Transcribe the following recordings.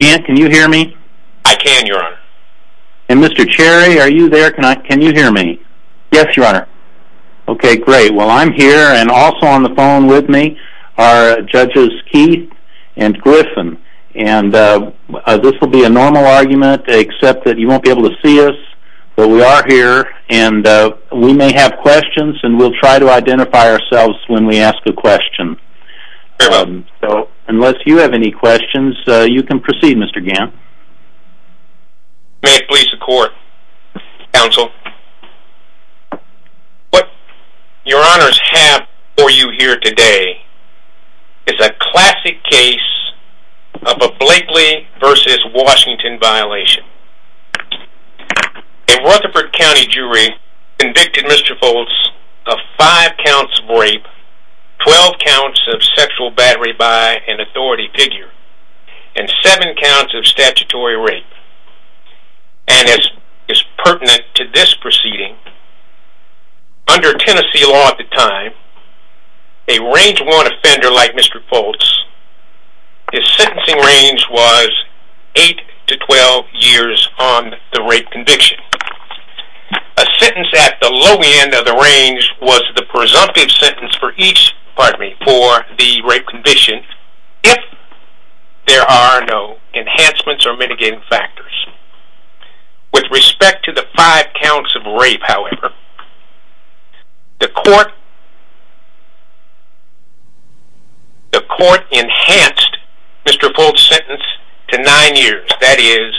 Can you hear me? I can, Your Honor. And Mr. Cherry, are you there? Can you hear me? Yes, Your Honor. Okay, great. Well, I'm here, and also on the phone with me are Judges Keith and Griffin. And this will be a normal argument, except that you won't be able to see us, but we are here, and we may have questions, and we'll try to identify ourselves when we ask a question. So, unless you have any questions, you can proceed, Mr. Gant. May it please the Court, Counsel. What Your Honors have for you here today is a classic case of a Blakely v. Washington violation. A Rutherford County jury convicted Mr. Fults of 5 counts of rape, 12 counts of sexual battery by an authority figure, and 7 counts of statutory rape. And as pertinent to this proceeding, under Tennessee law at the time, a Range 1 offender like Mr. Fults, his sentencing range was 8 to 12 years on the rape conviction. A sentence at the low end of the range was the presumptive sentence for each, pardon me, for the rape conviction, if there are no enhancements or mitigating factors. With respect to the 5 counts of rape, however, the Court enhanced Mr. Fults' sentence to 9 years, that is,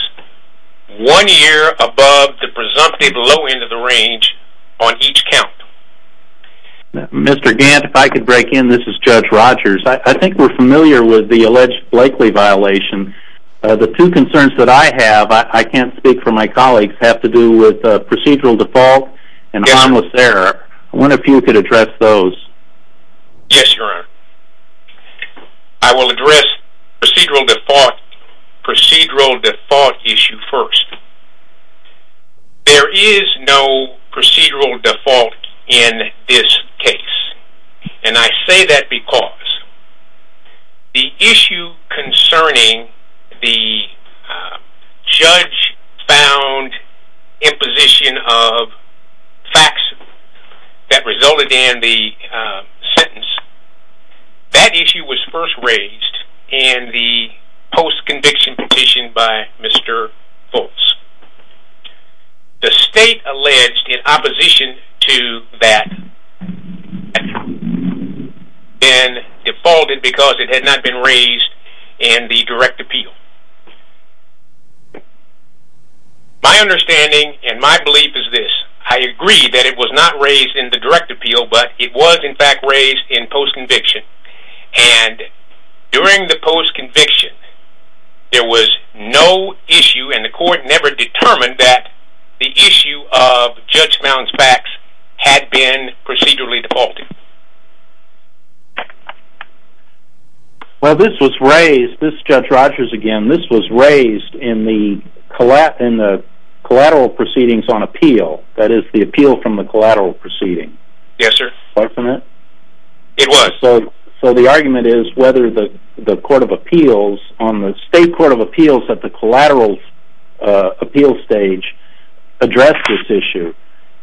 1 year above the presumptive low end of the range on each count. Mr. Gant, if I could break in, this is Judge Rogers. I think we're familiar with the alleged Blakely violation. The two concerns that I have, I can't speak for my colleagues, have to do with procedural default and harmless error. I wonder if you could address those. Yes, Your Honor. I will address procedural default issue first. There is no procedural default in this case. And I say that because the issue concerning the judge-found imposition of facts that resulted in the sentence, that issue was first raised in the post-conviction petition by Mr. Fults. The state alleged in opposition to that had been defaulted because it had not been raised in the direct appeal. My understanding and my belief is this. I agree that it was not raised in the direct appeal, but it was, in fact, raised in post-conviction. And during the post-conviction, there was no issue and the court never determined that the issue of judge-found facts had been procedurally defaulted. Well, this was raised, this is Judge Rogers again, this was raised in the collateral proceedings on appeal. That is, the appeal from the collateral proceeding. Yes, sir. Wasn't it? It was. So the argument is whether the Court of Appeals, on the state Court of Appeals at the collateral appeal stage, addressed this issue.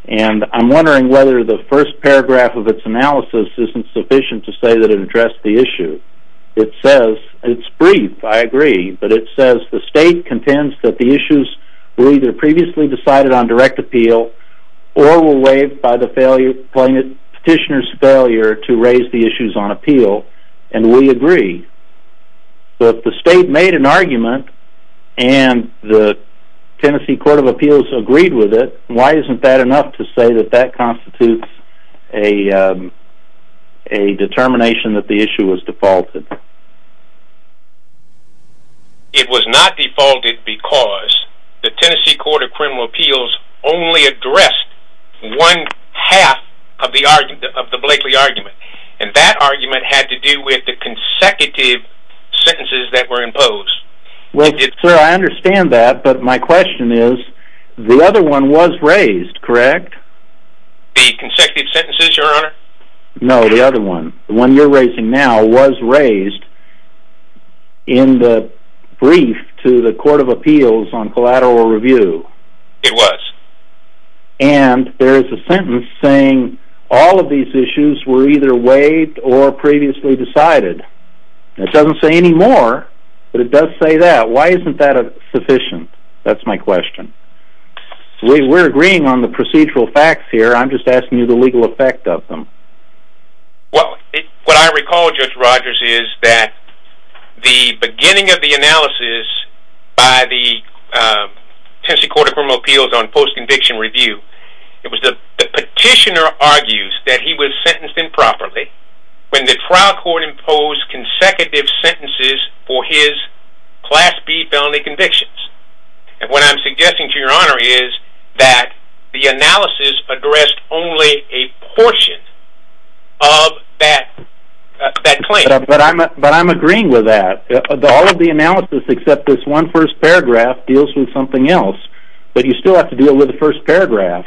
And I'm wondering whether the first paragraph of its analysis isn't sufficient to say that it addressed the issue. It says, it's brief, I agree, but it says the state contends that the issues were either previously decided on direct appeal or were waived by the petitioner's failure to raise the issues on appeal. And we agree. But if the state made an argument and the Tennessee Court of Appeals agreed with it, why isn't that enough to say that that constitutes a determination that the issue was defaulted? It was not defaulted because the Tennessee Court of Criminal Appeals only addressed one half of the Blakely argument. And that argument had to do with the consecutive sentences that were imposed. Well, sir, I understand that, but my question is, the other one was raised, correct? The consecutive sentences, your honor? No, the other one. The one you're raising now was raised in the brief to the Court of Appeals on collateral review. It was. And there is a sentence saying all of these issues were either waived or previously decided. It doesn't say any more, but it does say that. Why isn't that sufficient? That's my question. We're agreeing on the procedural facts here. I'm just asking you the legal effect of them. Well, what I recall, Judge Rogers, is that the beginning of the analysis by the Tennessee Court of Criminal Appeals on post-conviction review, it was the petitioner argues that he was sentenced improperly when the trial court imposed consecutive sentences for his Class B felony convictions. And what I'm suggesting to your honor is that the analysis addressed only a portion of that claim. But I'm agreeing with that. All of the analysis except this one first paragraph deals with something else. But you still have to deal with the first paragraph,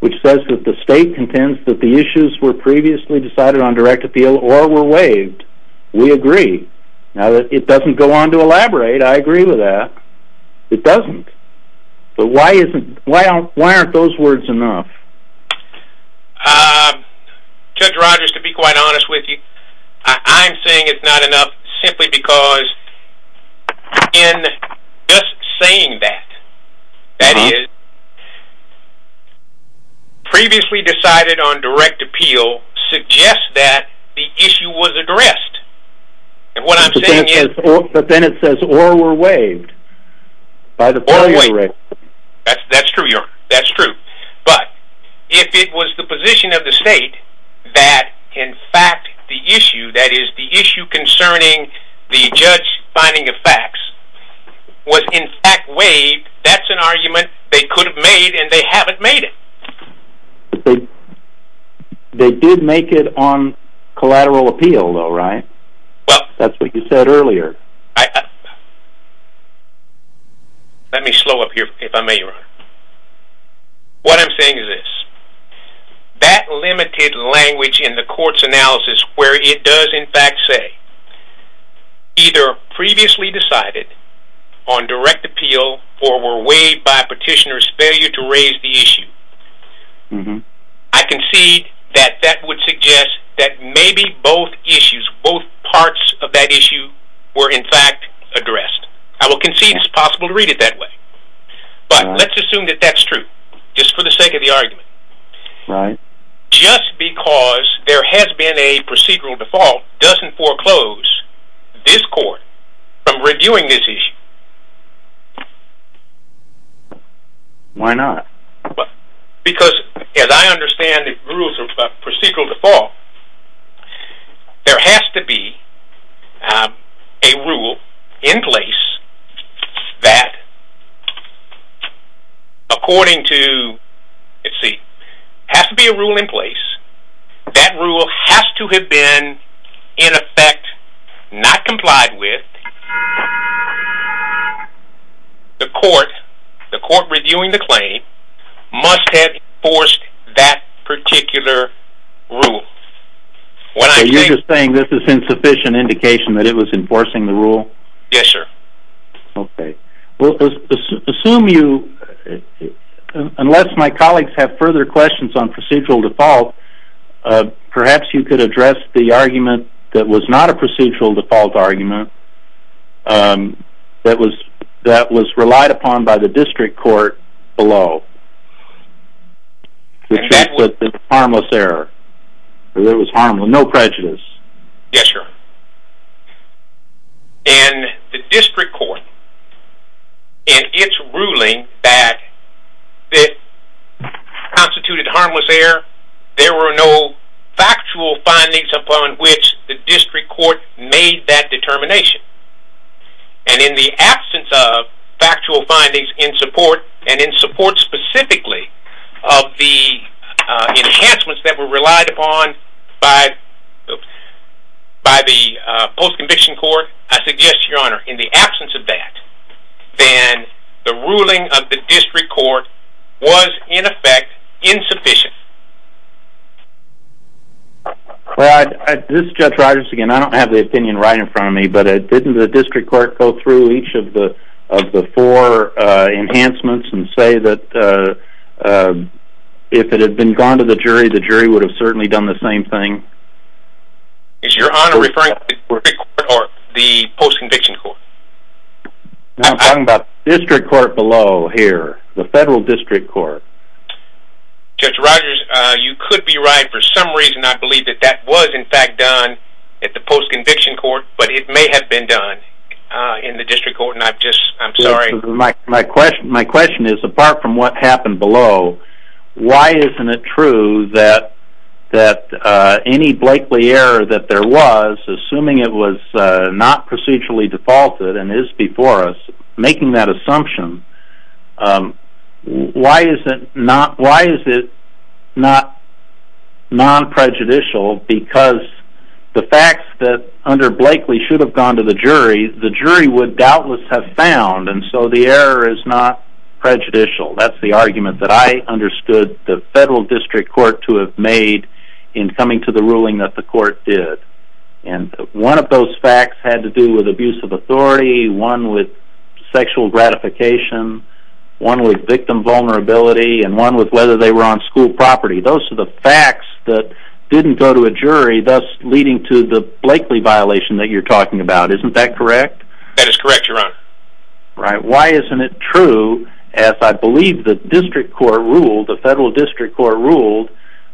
which says that the state contends that the issues were previously decided on direct appeal or were waived. We agree. Now, it doesn't go on to elaborate. I agree with that. It doesn't. But why aren't those words enough? Judge Rogers, to be quite honest with you, I'm saying it's not enough simply because in just saying that, that is, previously decided on direct appeal suggests that the issue was addressed. But then it says or were waived. Or waived. That's true, your honor. That's true. But if it was the position of the state that in fact the issue, that is, the issue concerning the judge finding of facts, was in fact waived, that's an argument they could have made and they haven't made it. They did make it on collateral appeal though, right? Well, that's what you said earlier. Let me slow up here if I may, your honor. What I'm saying is this. That limited language in the court's analysis where it does in fact say, either previously decided on direct appeal or were waived by petitioner's failure to raise the issue, I concede that that would suggest that maybe both issues, both parts of that issue were in fact addressed. I will concede it's possible to read it that way. But let's assume that that's true, just for the sake of the argument. Right. Just because there has been a procedural default doesn't foreclose this court from reviewing this issue. Why not? Because as I understand the rules of procedural default, there has to be a rule in place that according to, let's see, has to be a rule in place that rule has to have been in effect not complied with the court reviewing the claim must have enforced that particular rule. So you're just saying this is insufficient indication that it was enforcing the rule? Yes, sir. Okay. Well, assume you, unless my colleagues have further questions on procedural default, perhaps you could address the argument that was not a procedural default argument that was relied upon by the district court below. Harmless error. It was harmless. No prejudice. Yes, sir. In the district court, in its ruling that constituted harmless error, there were no factual findings upon which the district court made that determination. And in the absence of factual findings in support, and in support specifically of the enhancements that were relied upon by the post-conviction court, I suggest, Your Honor, in the absence of that, then the ruling of the district court was, in effect, insufficient. Well, this is Judge Rogers again. I don't have the opinion right in front of me, but didn't the district court go through each of the four enhancements the same thing? Is Your Honor referring to the district court or the post-conviction court? I'm talking about the district court below here, the federal district court. Judge Rogers, you could be right. For some reason, I believe that that was, in fact, done at the post-conviction court, but it may have been done in the district court, and I'm sorry. My question is, apart from what happened below, why isn't it true that any Blakely error that there was, assuming it was not procedurally defaulted and is before us, making that assumption, why is it not non-prejudicial? Because the facts that under Blakely should have gone to the jury, the jury would doubtless have found, and so the error is not prejudicial. That's the argument that I understood the federal district court to have made in coming to the ruling that the court did. And one of those facts had to do with abuse of authority, one with sexual gratification, one with victim vulnerability, and one with whether they were on school property. Those are the facts that didn't go to a jury, thus leading to the Blakely violation that you're talking about. Isn't that correct? That is correct, Your Honor. Why isn't it true, as I believe the district court ruled, the federal district court ruled,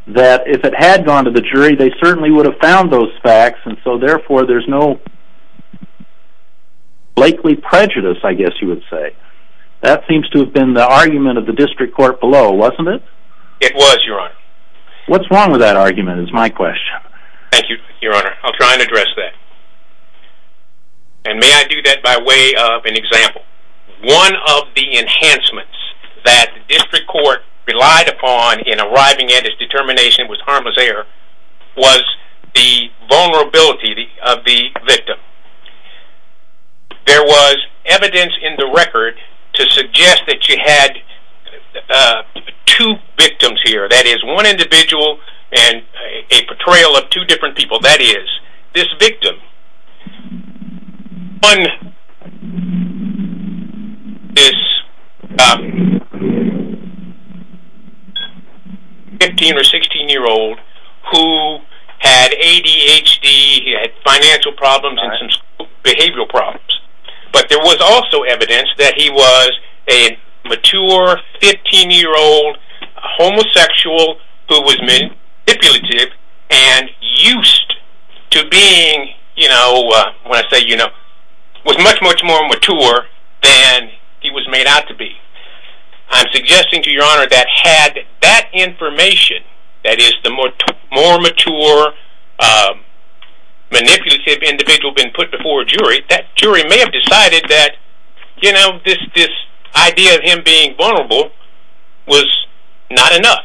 that if it had gone to the jury, they certainly would have found those facts, and so therefore there's no Blakely prejudice, I guess you would say. That seems to have been the argument of the district court below, wasn't it? It was, Your Honor. What's wrong with that argument is my question. Thank you, Your Honor. I'll try and address that. And may I do that by way of an example? One of the enhancements that the district court relied upon in arriving at its determination it was harmless error was the vulnerability of the victim. There was evidence in the record to suggest that you had two victims here, that is, one individual and a portrayal of two different people. That is, this victim, one is a 15 or 16-year-old who had ADHD, he had financial problems and some behavioral problems. But there was also evidence that he was a mature 15-year-old homosexual who was manipulative and used to being, when I say, you know, was much, much more mature than he was made out to be. I'm suggesting to Your Honor that had that information, that is, the more mature manipulative individual been put before a jury, that jury may have decided that this idea of him being vulnerable was not enough.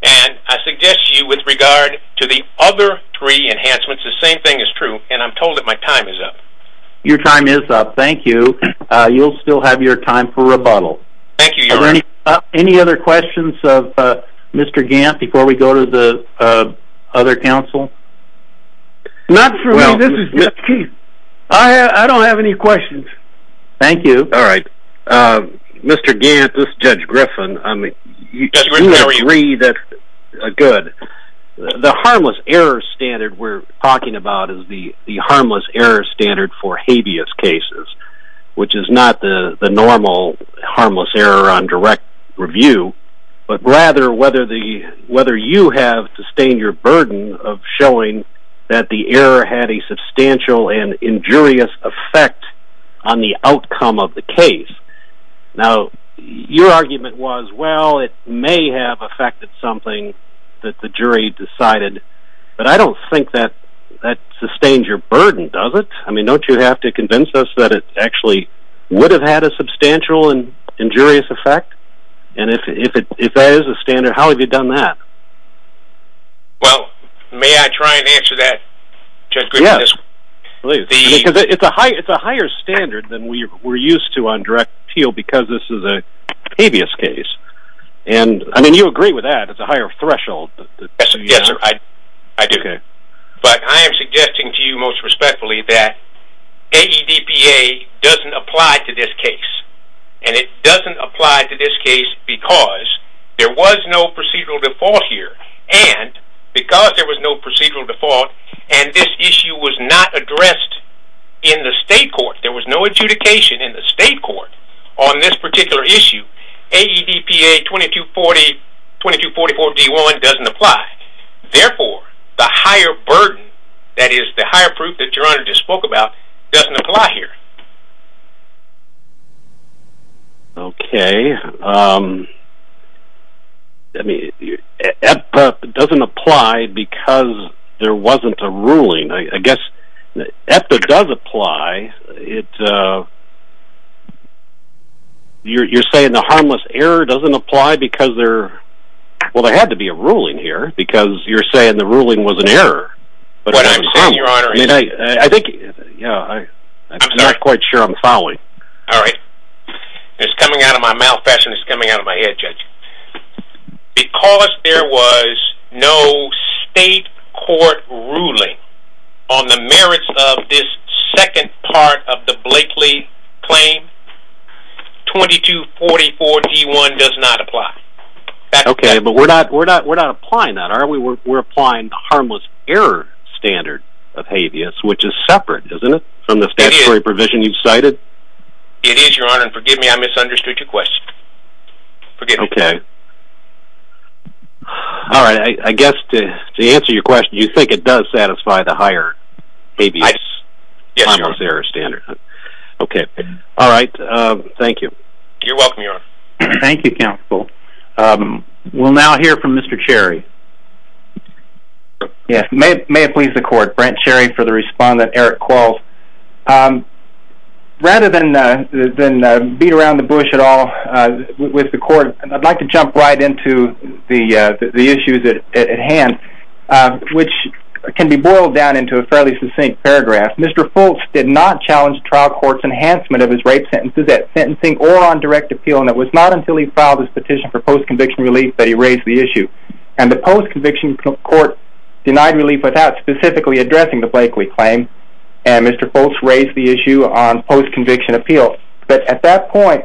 And I suggest to you with regard to the other three enhancements, the same thing is true, and I'm told that my time is up. Your time is up. Thank you. You'll still have your time for rebuttal. Thank you, Your Honor. Any other questions of Mr. Gant before we go to the other counsel? Not for me. This is Judge Keith. I don't have any questions. Thank you. All right. Mr. Gant, this is Judge Griffin. Judge Griffin, how are you? Good. The harmless error standard we're talking about is the harmless error standard for habeas cases, which is not the normal harmless error on direct review, but rather whether you have sustained your burden of showing that the error had a substantial and injurious effect on the outcome of the case. Now, your argument was, well, it may have affected something that the jury decided, but I don't think that that sustains your burden, does it? I mean, don't you have to convince us that it actually would have had a substantial and injurious effect? And if that is the standard, how have you done that? Well, may I try and answer that, Judge Griffin? Yes, please. Because it's a higher standard than we're used to on direct appeal because this is a habeas case. I mean, you agree with that. It's a higher threshold. Yes, sir. I do. But I am suggesting to you most respectfully that AEDPA doesn't apply to this case, and it doesn't apply to this case because there was no procedural default here, and because there was no procedural default and this issue was not addressed in the state court, there was no adjudication in the state court on this particular issue, AEDPA 2244-D1 doesn't apply. Therefore, the higher burden, that is, the higher proof that Your Honor just spoke about, doesn't apply here. Okay. AEDPA doesn't apply because there wasn't a ruling. I guess AEDPA does apply. You're saying the harmless error doesn't apply because there had to be a ruling here What I'm saying, Your Honor, I'm not quite sure I'm following. All right. It's coming out of my mouth and it's coming out of my head, Judge. Because there was no state court ruling on the merits of this second part of the Blakely claim, 2244-D1 does not apply. Okay, but we're not applying that, are we? We're applying the harmless error standard of habeas, which is separate, isn't it, from the statutory provision you've cited? It is, Your Honor, and forgive me, I misunderstood your question. Okay. All right. I guess to answer your question, you think it does satisfy the higher habeas, harmless error standard. Okay. All right. Thank you. You're welcome, Your Honor. Thank you, Counsel. We'll now hear from Mr. Cherry. Yes. May it please the Court. Brent Cherry for the respondent. Eric Quarles. Rather than beat around the bush at all with the Court, I'd like to jump right into the issues at hand, which can be boiled down into a fairly succinct paragraph. Mr. Fultz did not challenge the trial court's enhancement of his rape sentences at sentencing or on direct appeal, and it was not until he filed his petition for post-conviction relief that he raised the issue. And the post-conviction court denied relief without specifically addressing the Blakely claim, and Mr. Fultz raised the issue on post-conviction appeal. But at that point,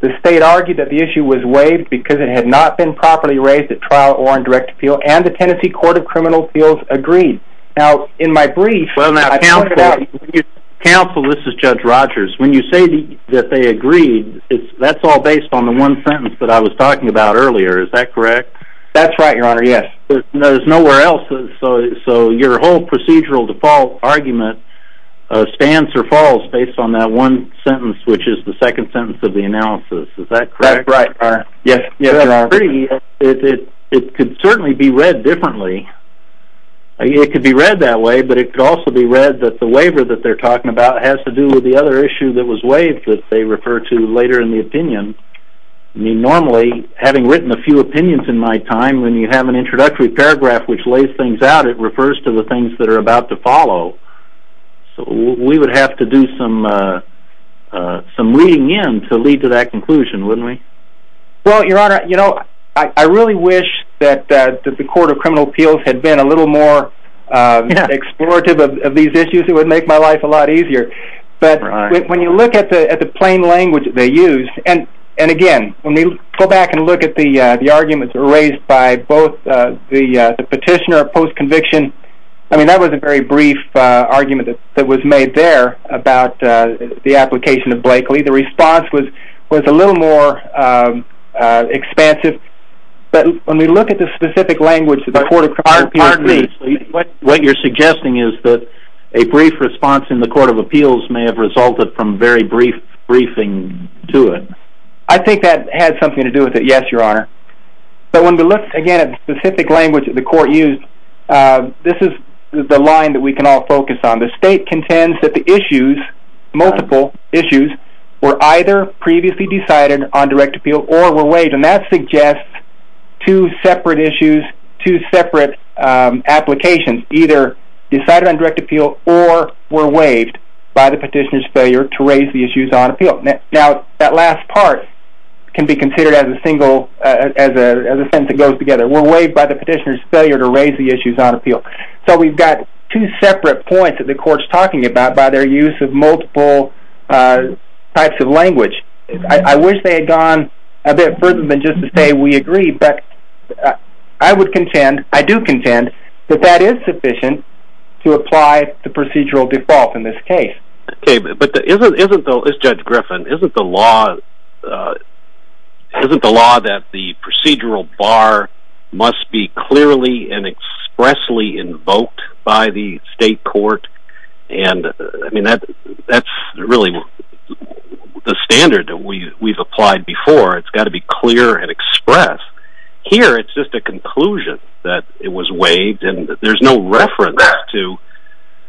the State argued that the issue was waived because it had not been properly raised at trial or on direct appeal, and the Tennessee Court of Criminal Appeals agreed. Now, in my brief, I pointed out— Well, now, Counsel, this is Judge Rogers. When you say that they agreed, that's all based on the one sentence that I was talking about earlier. Is that correct? That's right, Your Honor, yes. There's nowhere else. So your whole procedural default argument stands or falls based on that one sentence, which is the second sentence of the analysis. Is that correct? That's right. Yes, Your Honor. It could certainly be read differently. It could be read that way, but it could also be read that the waiver that they're talking about has to do with the other issue that was waived that they refer to later in the opinion. I mean, normally, having written a few opinions in my time, when you have an introductory paragraph which lays things out, it refers to the things that are about to follow. So we would have to do some reading in to lead to that conclusion, wouldn't we? Well, Your Honor, you know, I really wish that the Court of Criminal Appeals had been a little more explorative of these issues. It would make my life a lot easier. But when you look at the plain language that they use, and, again, when we go back and look at the arguments raised by both the petitioner, post-conviction, I mean, that was a very brief argument that was made there about the application of Blakely. The response was a little more expansive. But when we look at the specific language that the Court of Criminal Appeals uses, what you're suggesting is that a brief response in the Court of Appeals may have resulted from very brief briefing to it. I think that has something to do with it, yes, Your Honor. But when we look, again, at the specific language that the Court used, this is the line that we can all focus on. The state contends that the issues, multiple issues, were either previously decided on direct appeal or were waived. And that suggests two separate issues, two separate applications, either decided on direct appeal or were waived by the petitioner's failure to raise the issues on appeal. Now, that last part can be considered as a sentence that goes together. Were waived by the petitioner's failure to raise the issues on appeal. So we've got two separate points that the Court's talking about by their use of multiple types of language. I wish they had gone a bit further than just to say, we agree. But I would contend, I do contend, that that is sufficient to apply the procedural default in this case. Okay, but isn't, though, as Judge Griffin, isn't the law that the procedural bar must be clearly and expressly invoked by the state court? And, I mean, that's really the standard that we've applied before. It's got to be clear and express. Here, it's just a conclusion that it was waived and there's no reference to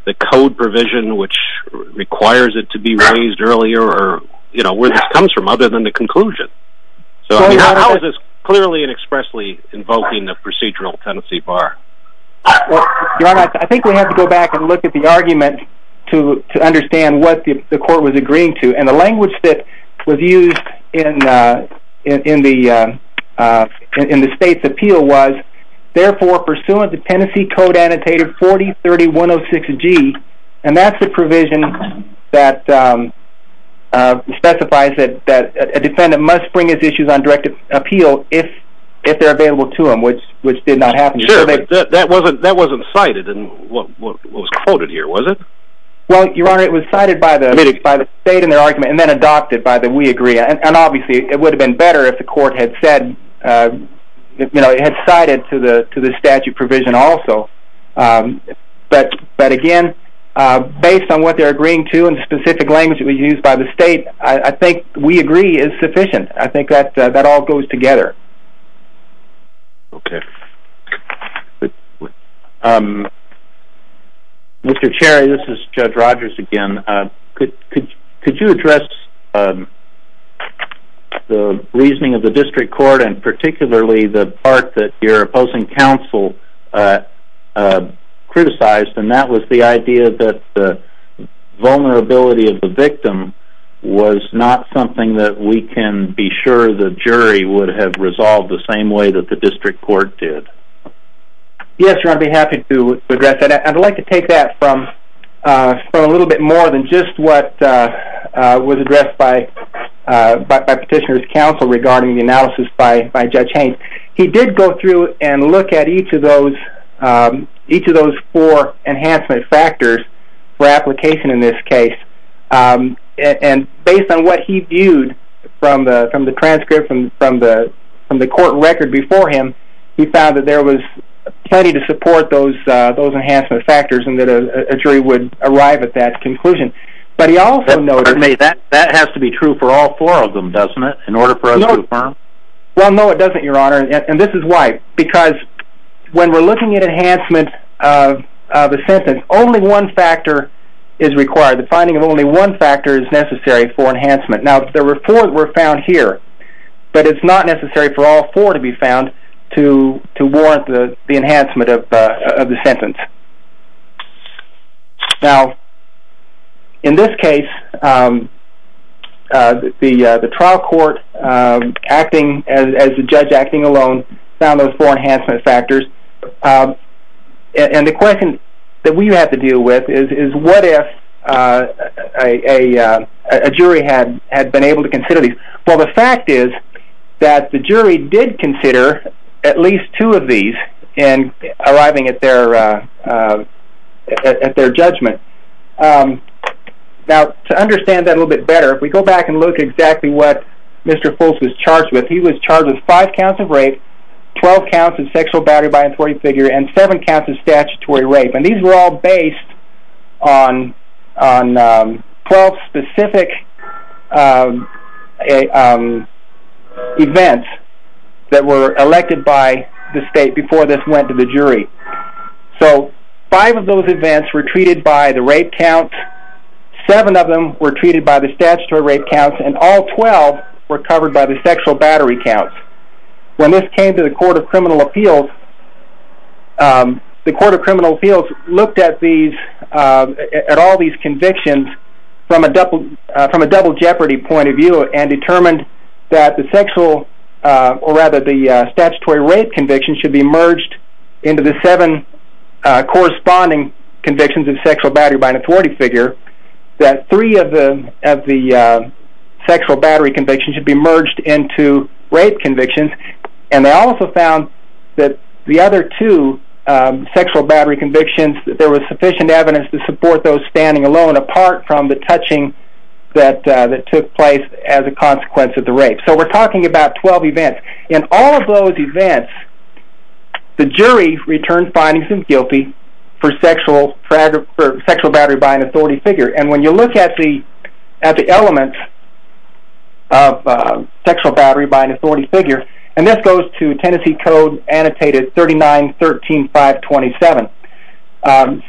the code provision which requires it to be raised earlier or, you know, where this comes from other than the conclusion. So, I mean, how is this clearly and expressly invoking the procedural tenancy bar? Your Honor, I think we have to go back and look at the argument to understand what the Court was agreeing to. And the language that was used in the state's appeal was, therefore, pursuant to Tenancy Code Annotator 4030106G, and that's the provision that specifies that a defendant must bring his issues on direct appeal if they're available to him, which did not happen. Sure, but that wasn't cited in what was quoted here, was it? Well, Your Honor, it was cited by the state in their argument and then adopted by the We Agree. And, obviously, it would have been better if the Court had said, you know, had cited to the statute provision also. But, again, based on what they're agreeing to and the specific language that was used by the state, I think We Agree is sufficient. I think that all goes together. Okay. Mr. Cherry, this is Judge Rogers again. Could you address the reasoning of the District Court and particularly the part that your opposing counsel criticized, and that was the idea that the vulnerability of the victim was not something that we can be sure the jury would have resolved the same way that the District Court did? Yes, Your Honor, I'd be happy to address that. I'd like to take that from a little bit more than just what was addressed by Petitioner's counsel regarding the analysis by Judge Haines. He did go through and look at each of those four enhancement factors for application in this case. And based on what he viewed from the transcript and from the court record before him, he found that there was plenty to support those enhancement factors and that a jury would arrive at that conclusion. But he also noted... That has to be true for all four of them, doesn't it, in order for us to affirm? Well, no, it doesn't, Your Honor, and this is why. Because when we're looking at enhancement of a sentence, only one factor is required. The finding of only one factor is necessary for enhancement. Now, there were four that were found here, but it's not necessary for all four to be found to warrant the enhancement of the sentence. Now, in this case, the trial court, acting as the judge acting alone, found those four enhancement factors. And the question that we have to deal with is, what if a jury had been able to consider these? Well, the fact is that the jury did consider at least two of these in arriving at their judgment. Now, to understand that a little bit better, if we go back and look at exactly what Mr. Fulce was charged with, he was charged with five counts of rape, 12 counts of sexual battery by authority figure, and seven counts of statutory rape. And these were all based on 12 specific events that were elected by the state before this went to the jury. So five of those events were treated by the rape count, seven of them were treated by the statutory rape count, and all 12 were covered by the sexual battery count. When this came to the Court of Criminal Appeals, the Court of Criminal Appeals looked at all these convictions from a double jeopardy point of view and determined that the sexual, or rather the statutory rape conviction should be merged into the seven corresponding convictions of sexual battery by an authority figure, that three of the sexual battery convictions should be merged into rape convictions, and they also found that the other two sexual battery convictions, that there was sufficient evidence to support those standing alone apart from the touching that took place as a consequence of the rape. So we're talking about 12 events. In all of those events, the jury returns findings in guilty for sexual battery by an authority figure. And when you look at the elements of sexual battery by an authority figure, and this goes to Tennessee Code Annotated 39-13-527,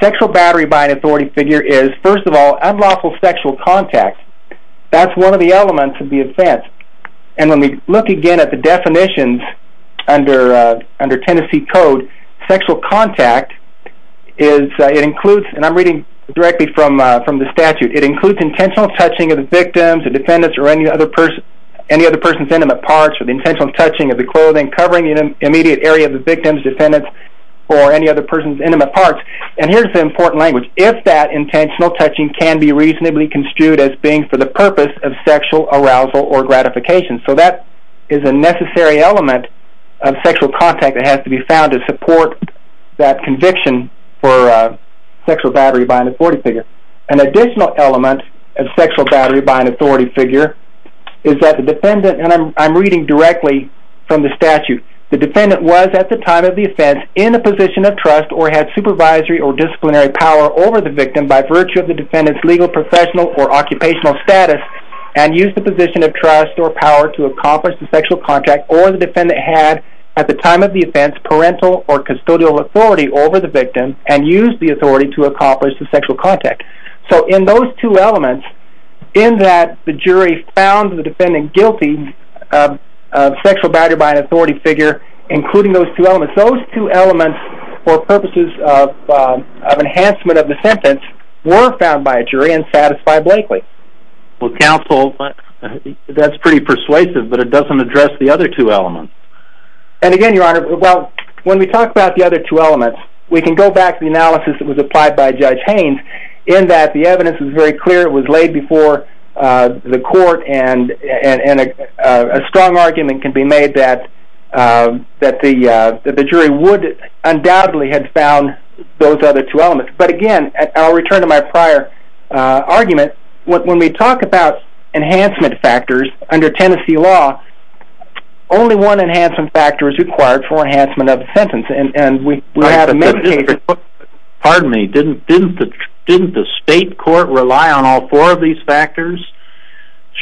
sexual battery by an authority figure is, first of all, unlawful sexual contact. That's one of the elements of the offense. And when we look again at the definitions under Tennessee Code, sexual contact is, it includes, and I'm reading directly from the statute, it includes intentional touching of the victims, the defendants, or any other person's intimate parts, or the intentional touching of the clothing covering the immediate area of the victims, defendants, or any other person's intimate parts. And here's the important language. If that intentional touching can be reasonably construed as being for the purpose of sexual arousal or gratification. So that is a necessary element of sexual contact that has to be found to support that conviction for sexual battery by an authority figure. An additional element of sexual battery by an authority figure is that the defendant, and I'm reading directly from the statute, the defendant was at the time of the offense in a position of trust or had supervisory or disciplinary power over the victim by virtue of the defendant's legal, professional, or occupational status, and used the position of trust or power to accomplish the sexual contact, or the defendant had at the time of the offense parental or custodial authority over the victim and used the authority to accomplish the sexual contact. So in those two elements, in that the jury found the defendant guilty of sexual battery by an authority figure, including those two elements, those two elements for purposes of enhancement of the sentence were found by a jury and satisfied Blakely. Well, counsel, that's pretty persuasive, but it doesn't address the other two elements. And again, Your Honor, well, when we talk about the other two elements, we can go back to the analysis that was applied by Judge Haynes, in that the evidence was very clear, it was laid before the court, and a strong argument can be made that the jury would undoubtedly have found those other two elements. But again, I'll return to my prior argument. When we talk about enhancement factors under Tennessee law, only one enhancement factor is required for enhancement of a sentence, and we have many cases... Pardon me, didn't the state court rely on all four of these factors?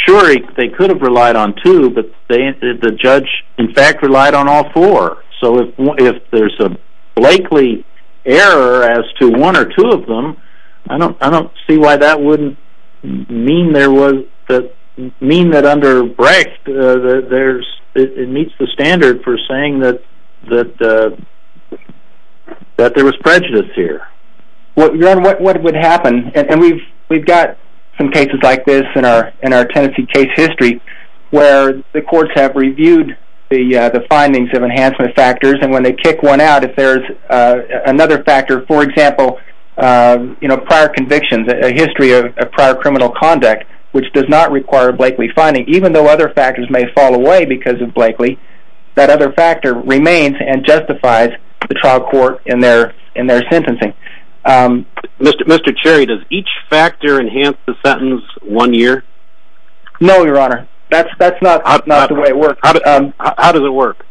Sure, they could have relied on two, but the judge, in fact, relied on all four. So if there's a Blakely error as to one or two of them, I don't see why that wouldn't mean that under Brecht, it meets the standard for saying that there was prejudice here. Your Honor, what would happen, and we've got some cases like this in our Tennessee case history, where the courts have reviewed the findings of enhancement factors, and when they kick one out, if there's another factor, for example, prior convictions, a history of prior criminal conduct, which does not require a Blakely finding, even though other factors may fall away because of Blakely, that other factor remains and justifies the trial court in their sentencing. Mr. Cherry, does each factor enhance the sentence one year? No, Your Honor. That's not the way it works. How does it work?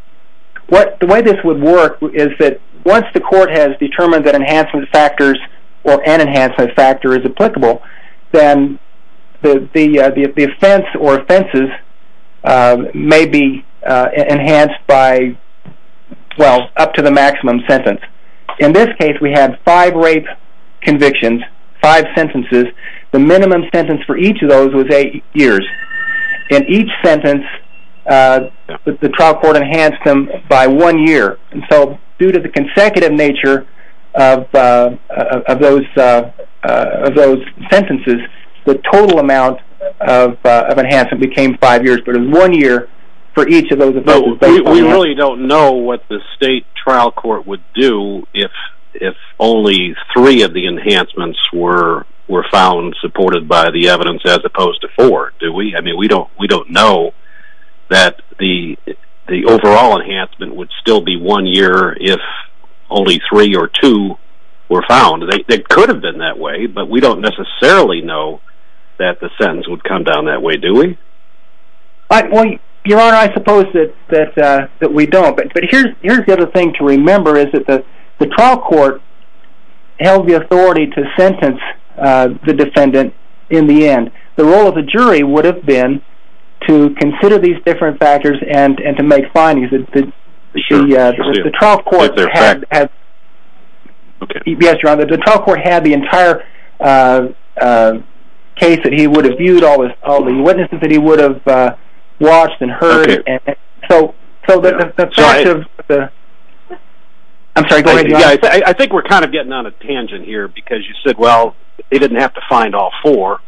The way this would work is that once the court has determined that enhancement factors or an enhancement factor is applicable, then the offense or offenses may be enhanced by, well, up to the maximum sentence. In this case, we had five rape convictions, five sentences. The minimum sentence for each of those was eight years. In each sentence, the trial court enhanced them by one year. And so due to the consecutive nature of those sentences, the total amount of enhancement became five years, but it was one year for each of those offenses. We really don't know what the state trial court would do if only three of the enhancements were found supported by the evidence as opposed to four, do we? I mean, we don't know that the overall enhancement would still be one year if only three or two were found. It could have been that way, but we don't necessarily know that the sentence would come down that way, do we? Your Honor, I suppose that we don't. But here's the other thing to remember is that the trial court held the authority to sentence the defendant in the end. The role of the jury would have been to consider these different factors and to make findings. The trial court had the entire case that he would have viewed, all the witnesses that he would have watched and heard. I think we're kind of getting on a tangent here because you said, well, they didn't have to find all four,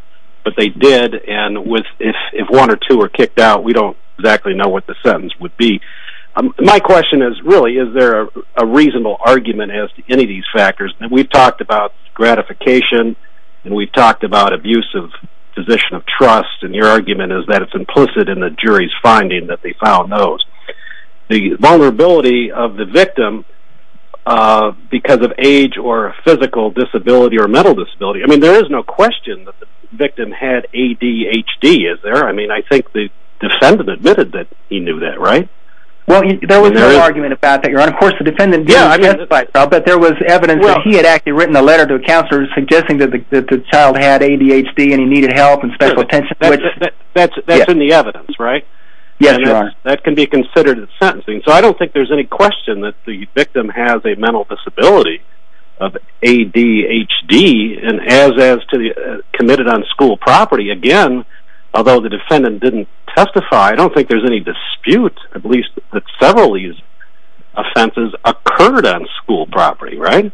but they did. And if one or two are kicked out, we don't exactly know what the sentence would be. My question is, really, is there a reasonable argument as to any of these factors? We've talked about gratification, and we've talked about abusive position of trust, and your argument is that it's implicit in the jury's finding that they found those. The vulnerability of the victim because of age or physical disability or mental disability, I mean, there is no question that the victim had ADHD, is there? I mean, I think the defendant admitted that he knew that, right? And, of course, the defendant didn't testify, but there was evidence that he had actually written a letter to a counselor suggesting that the child had ADHD and he needed help and special attention. That's in the evidence, right? Yes, there are. That can be considered sentencing. So I don't think there's any question that the victim has a mental disability of ADHD and has committed it on school property. Again, although the defendant didn't testify, I don't think there's any dispute, at least that several of these offenses occurred on school property, right?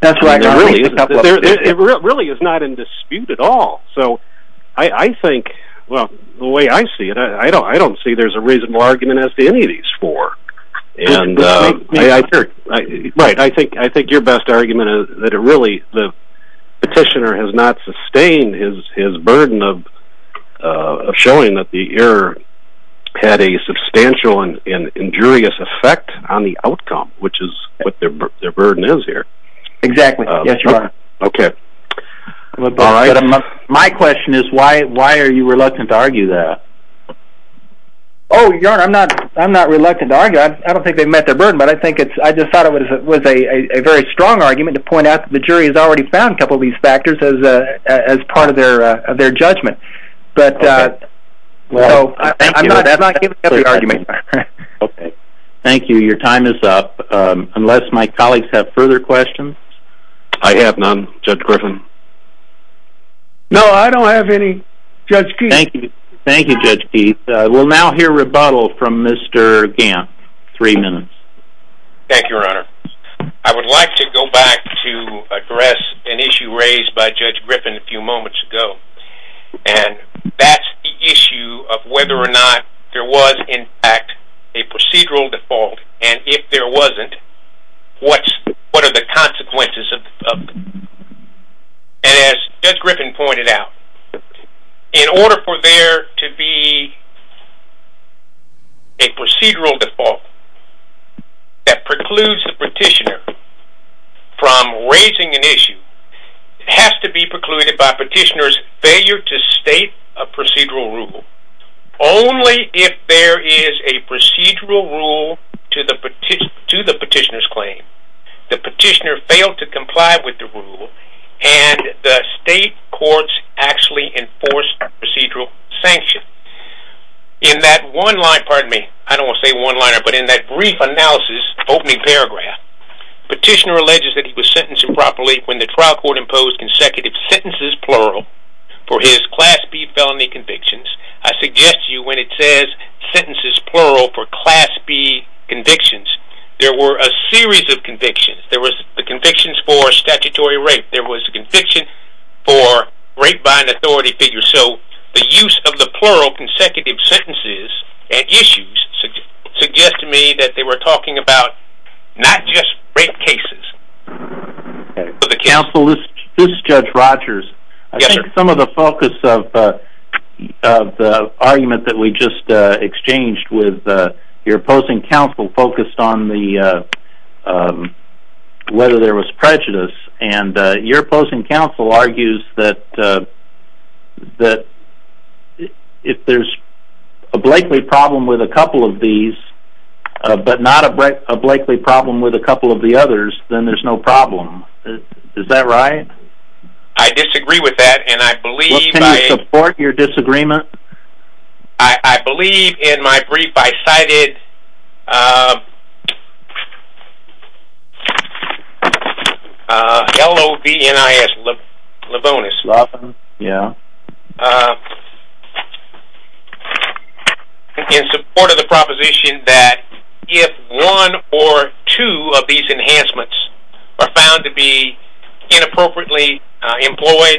That's right. It really is not in dispute at all. So I think, well, the way I see it, I don't see there's a reasonable argument as to any of these four. Right. I think your best argument is that really the petitioner has not sustained his burden of showing that the error had a substantial and injurious effect on the outcome, which is what their burden is here. Exactly. Yes, you are. Okay. My question is why are you reluctant to argue that? Oh, your Honor, I'm not reluctant to argue that. I don't think they've met their burden, but I just thought it was a very strong argument to point out that the jury has already found a couple of these factors as part of their judgment. Okay. Well, thank you. I'm not giving up the argument. Okay. Thank you. Your time is up. Unless my colleagues have further questions? I have none. Judge Griffin? No, I don't have any. Judge Keith? Thank you. Thank you, Judge Keith. We'll now hear rebuttal from Mr. Gamp. Three minutes. Thank you, Your Honor. I would like to go back to address an issue raised by Judge Griffin a few moments ago, and that's the issue of whether or not there was, in fact, a procedural default, and if there wasn't, what are the consequences of it? And as Judge Griffin pointed out, in order for there to be a procedural default that precludes the petitioner from raising an issue, it has to be precluded by petitioner's failure to state a procedural rule. Only if there is a procedural rule to the petitioner's claim, the petitioner failed to comply with the rule, and the state courts actually enforced procedural sanction. In that one line, pardon me, I don't want to say one-liner, but in that brief analysis, opening paragraph, petitioner alleges that he was sentenced improperly when the trial court imposed consecutive sentences, plural, for his Class B felony convictions. I suggest to you when it says sentences, plural, for Class B convictions, there were a series of convictions. There was the convictions for statutory rape. There was a conviction for rape by an authority figure. So the use of the plural consecutive sentences at issues suggests to me that they were talking about not just rape cases. Counsel, this is Judge Rogers. I think some of the focus of the argument that we just exchanged with your opposing counsel focused on whether there was prejudice, and your opposing counsel argues that if there's a Blakely problem with a couple of these but not a Blakely problem with a couple of the others, then there's no problem. Is that right? I disagree with that, and I believe by a… Well, can you support your disagreement? I believe in my brief I cited L-O-V-N-I-S Lebonis in support of the proposition that if one or two of these enhancements are found to be inappropriately employed,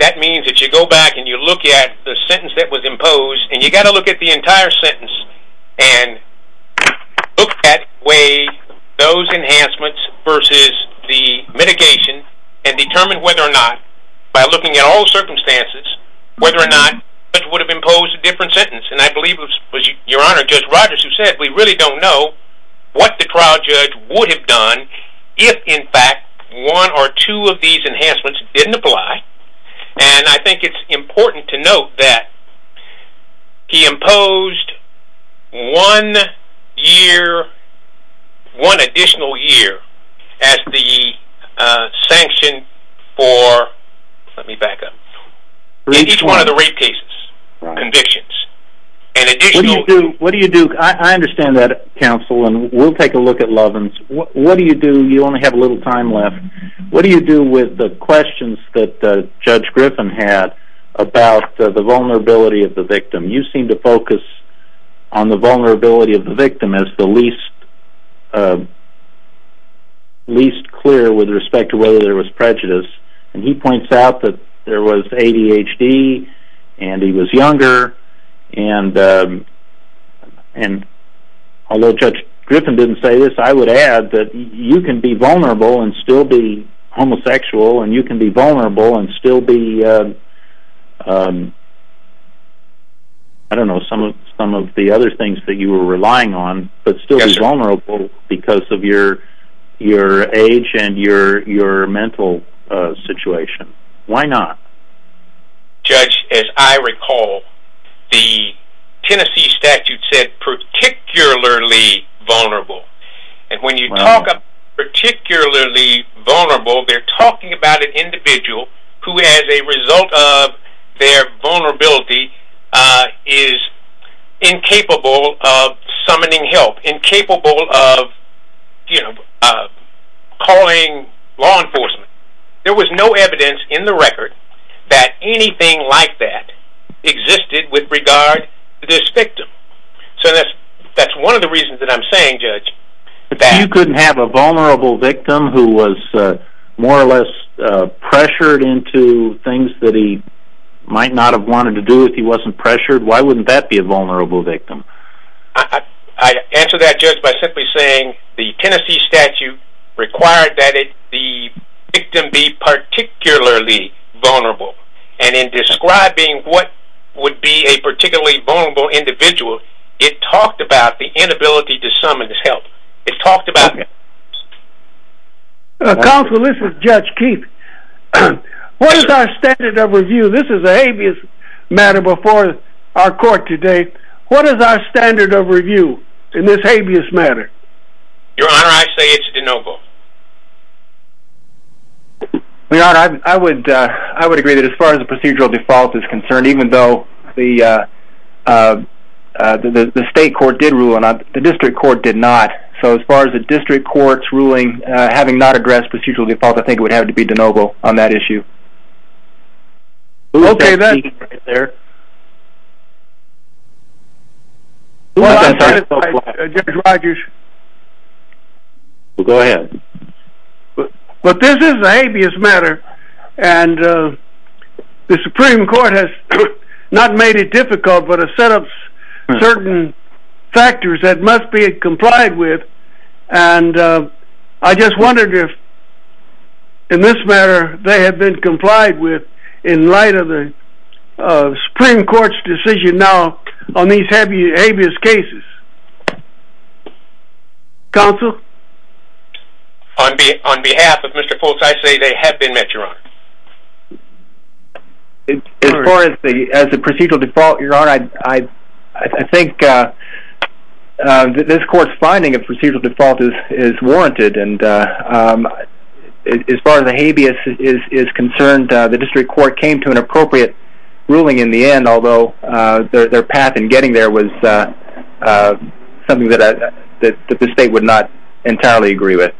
that means that you go back and you look at the sentence that was imposed, and you've got to look at the entire sentence and look that way, those enhancements versus the mitigation, and determine whether or not, by looking at all circumstances, whether or not the judge would have imposed a different sentence. And I believe it was your Honor, Judge Rogers, who said we really don't know what the trial judge would have done if, in fact, one or two of these enhancements didn't apply. And I think it's important to note that he imposed one year, one additional year, as the sanction for, let me back up, in each one of the rape cases, convictions. What do you do, I understand that, counsel, and we'll take a look at Lovins. What do you do, you only have a little time left, what do you do with the questions that Judge Griffin had about the vulnerability of the victim? You seem to focus on the vulnerability of the victim as the least clear with respect to whether there was prejudice. And he points out that there was ADHD, and he was younger, and although Judge Griffin didn't say this, I would add that you can be vulnerable and still be homosexual, and you can be vulnerable and still be, I don't know, some of the other things that you were relying on, but still be vulnerable because of your age and your mental situation. Why not? Judge, as I recall, the Tennessee statute said particularly vulnerable. And when you talk about particularly vulnerable, they're talking about an individual who as a result of their vulnerability is incapable of summoning help, incapable of calling law enforcement. There was no evidence in the record that anything like that existed with regard to this victim. So that's one of the reasons that I'm saying, Judge, that... things that he might not have wanted to do if he wasn't pressured, why wouldn't that be a vulnerable victim? I answer that, Judge, by simply saying the Tennessee statute required that the victim be particularly vulnerable. And in describing what would be a particularly vulnerable individual, it talked about the inability to summon his help. It talked about... Counsel, this is Judge Keith. What is our standard of review? This is a habeas matter before our court today. What is our standard of review in this habeas matter? Your Honor, I say it's de novo. Your Honor, I would agree that as far as the procedural default is concerned, even though the state court did rule and the district court did not, so as far as the district court's ruling, having not addressed procedural default, I think it would have to be de novo on that issue. Okay, then... Well, I'm sorry, Judge Rogers. Well, go ahead. But this is a habeas matter, and the Supreme Court has not made it difficult, but has set up certain factors that must be complied with, and I just wondered if, in this matter, they have been complied with in light of the Supreme Court's decision now on these habeas cases. Counsel? On behalf of Mr. Foltz, I say they have been met, Your Honor. As far as the procedural default, Your Honor, I think this court's finding of procedural default is warranted, and as far as the habeas is concerned, the district court came to an appropriate ruling in the end, although their path in getting there was something that the state would not entirely agree with.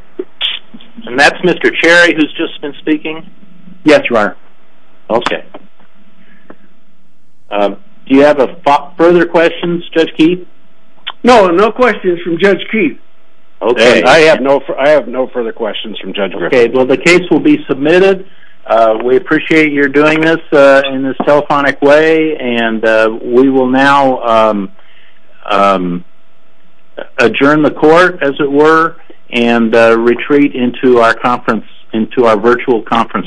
And that's Mr. Cherry, who's just been speaking. Yes, Your Honor. Okay. Do you have further questions, Judge Keith? No, no questions from Judge Keith. Okay. I have no further questions from Judge Griffith. Okay, well, the case will be submitted. We appreciate your doing this in this telephonic way, and we will now adjourn the court, as it were, and retreat into our conference, into our virtual conference room.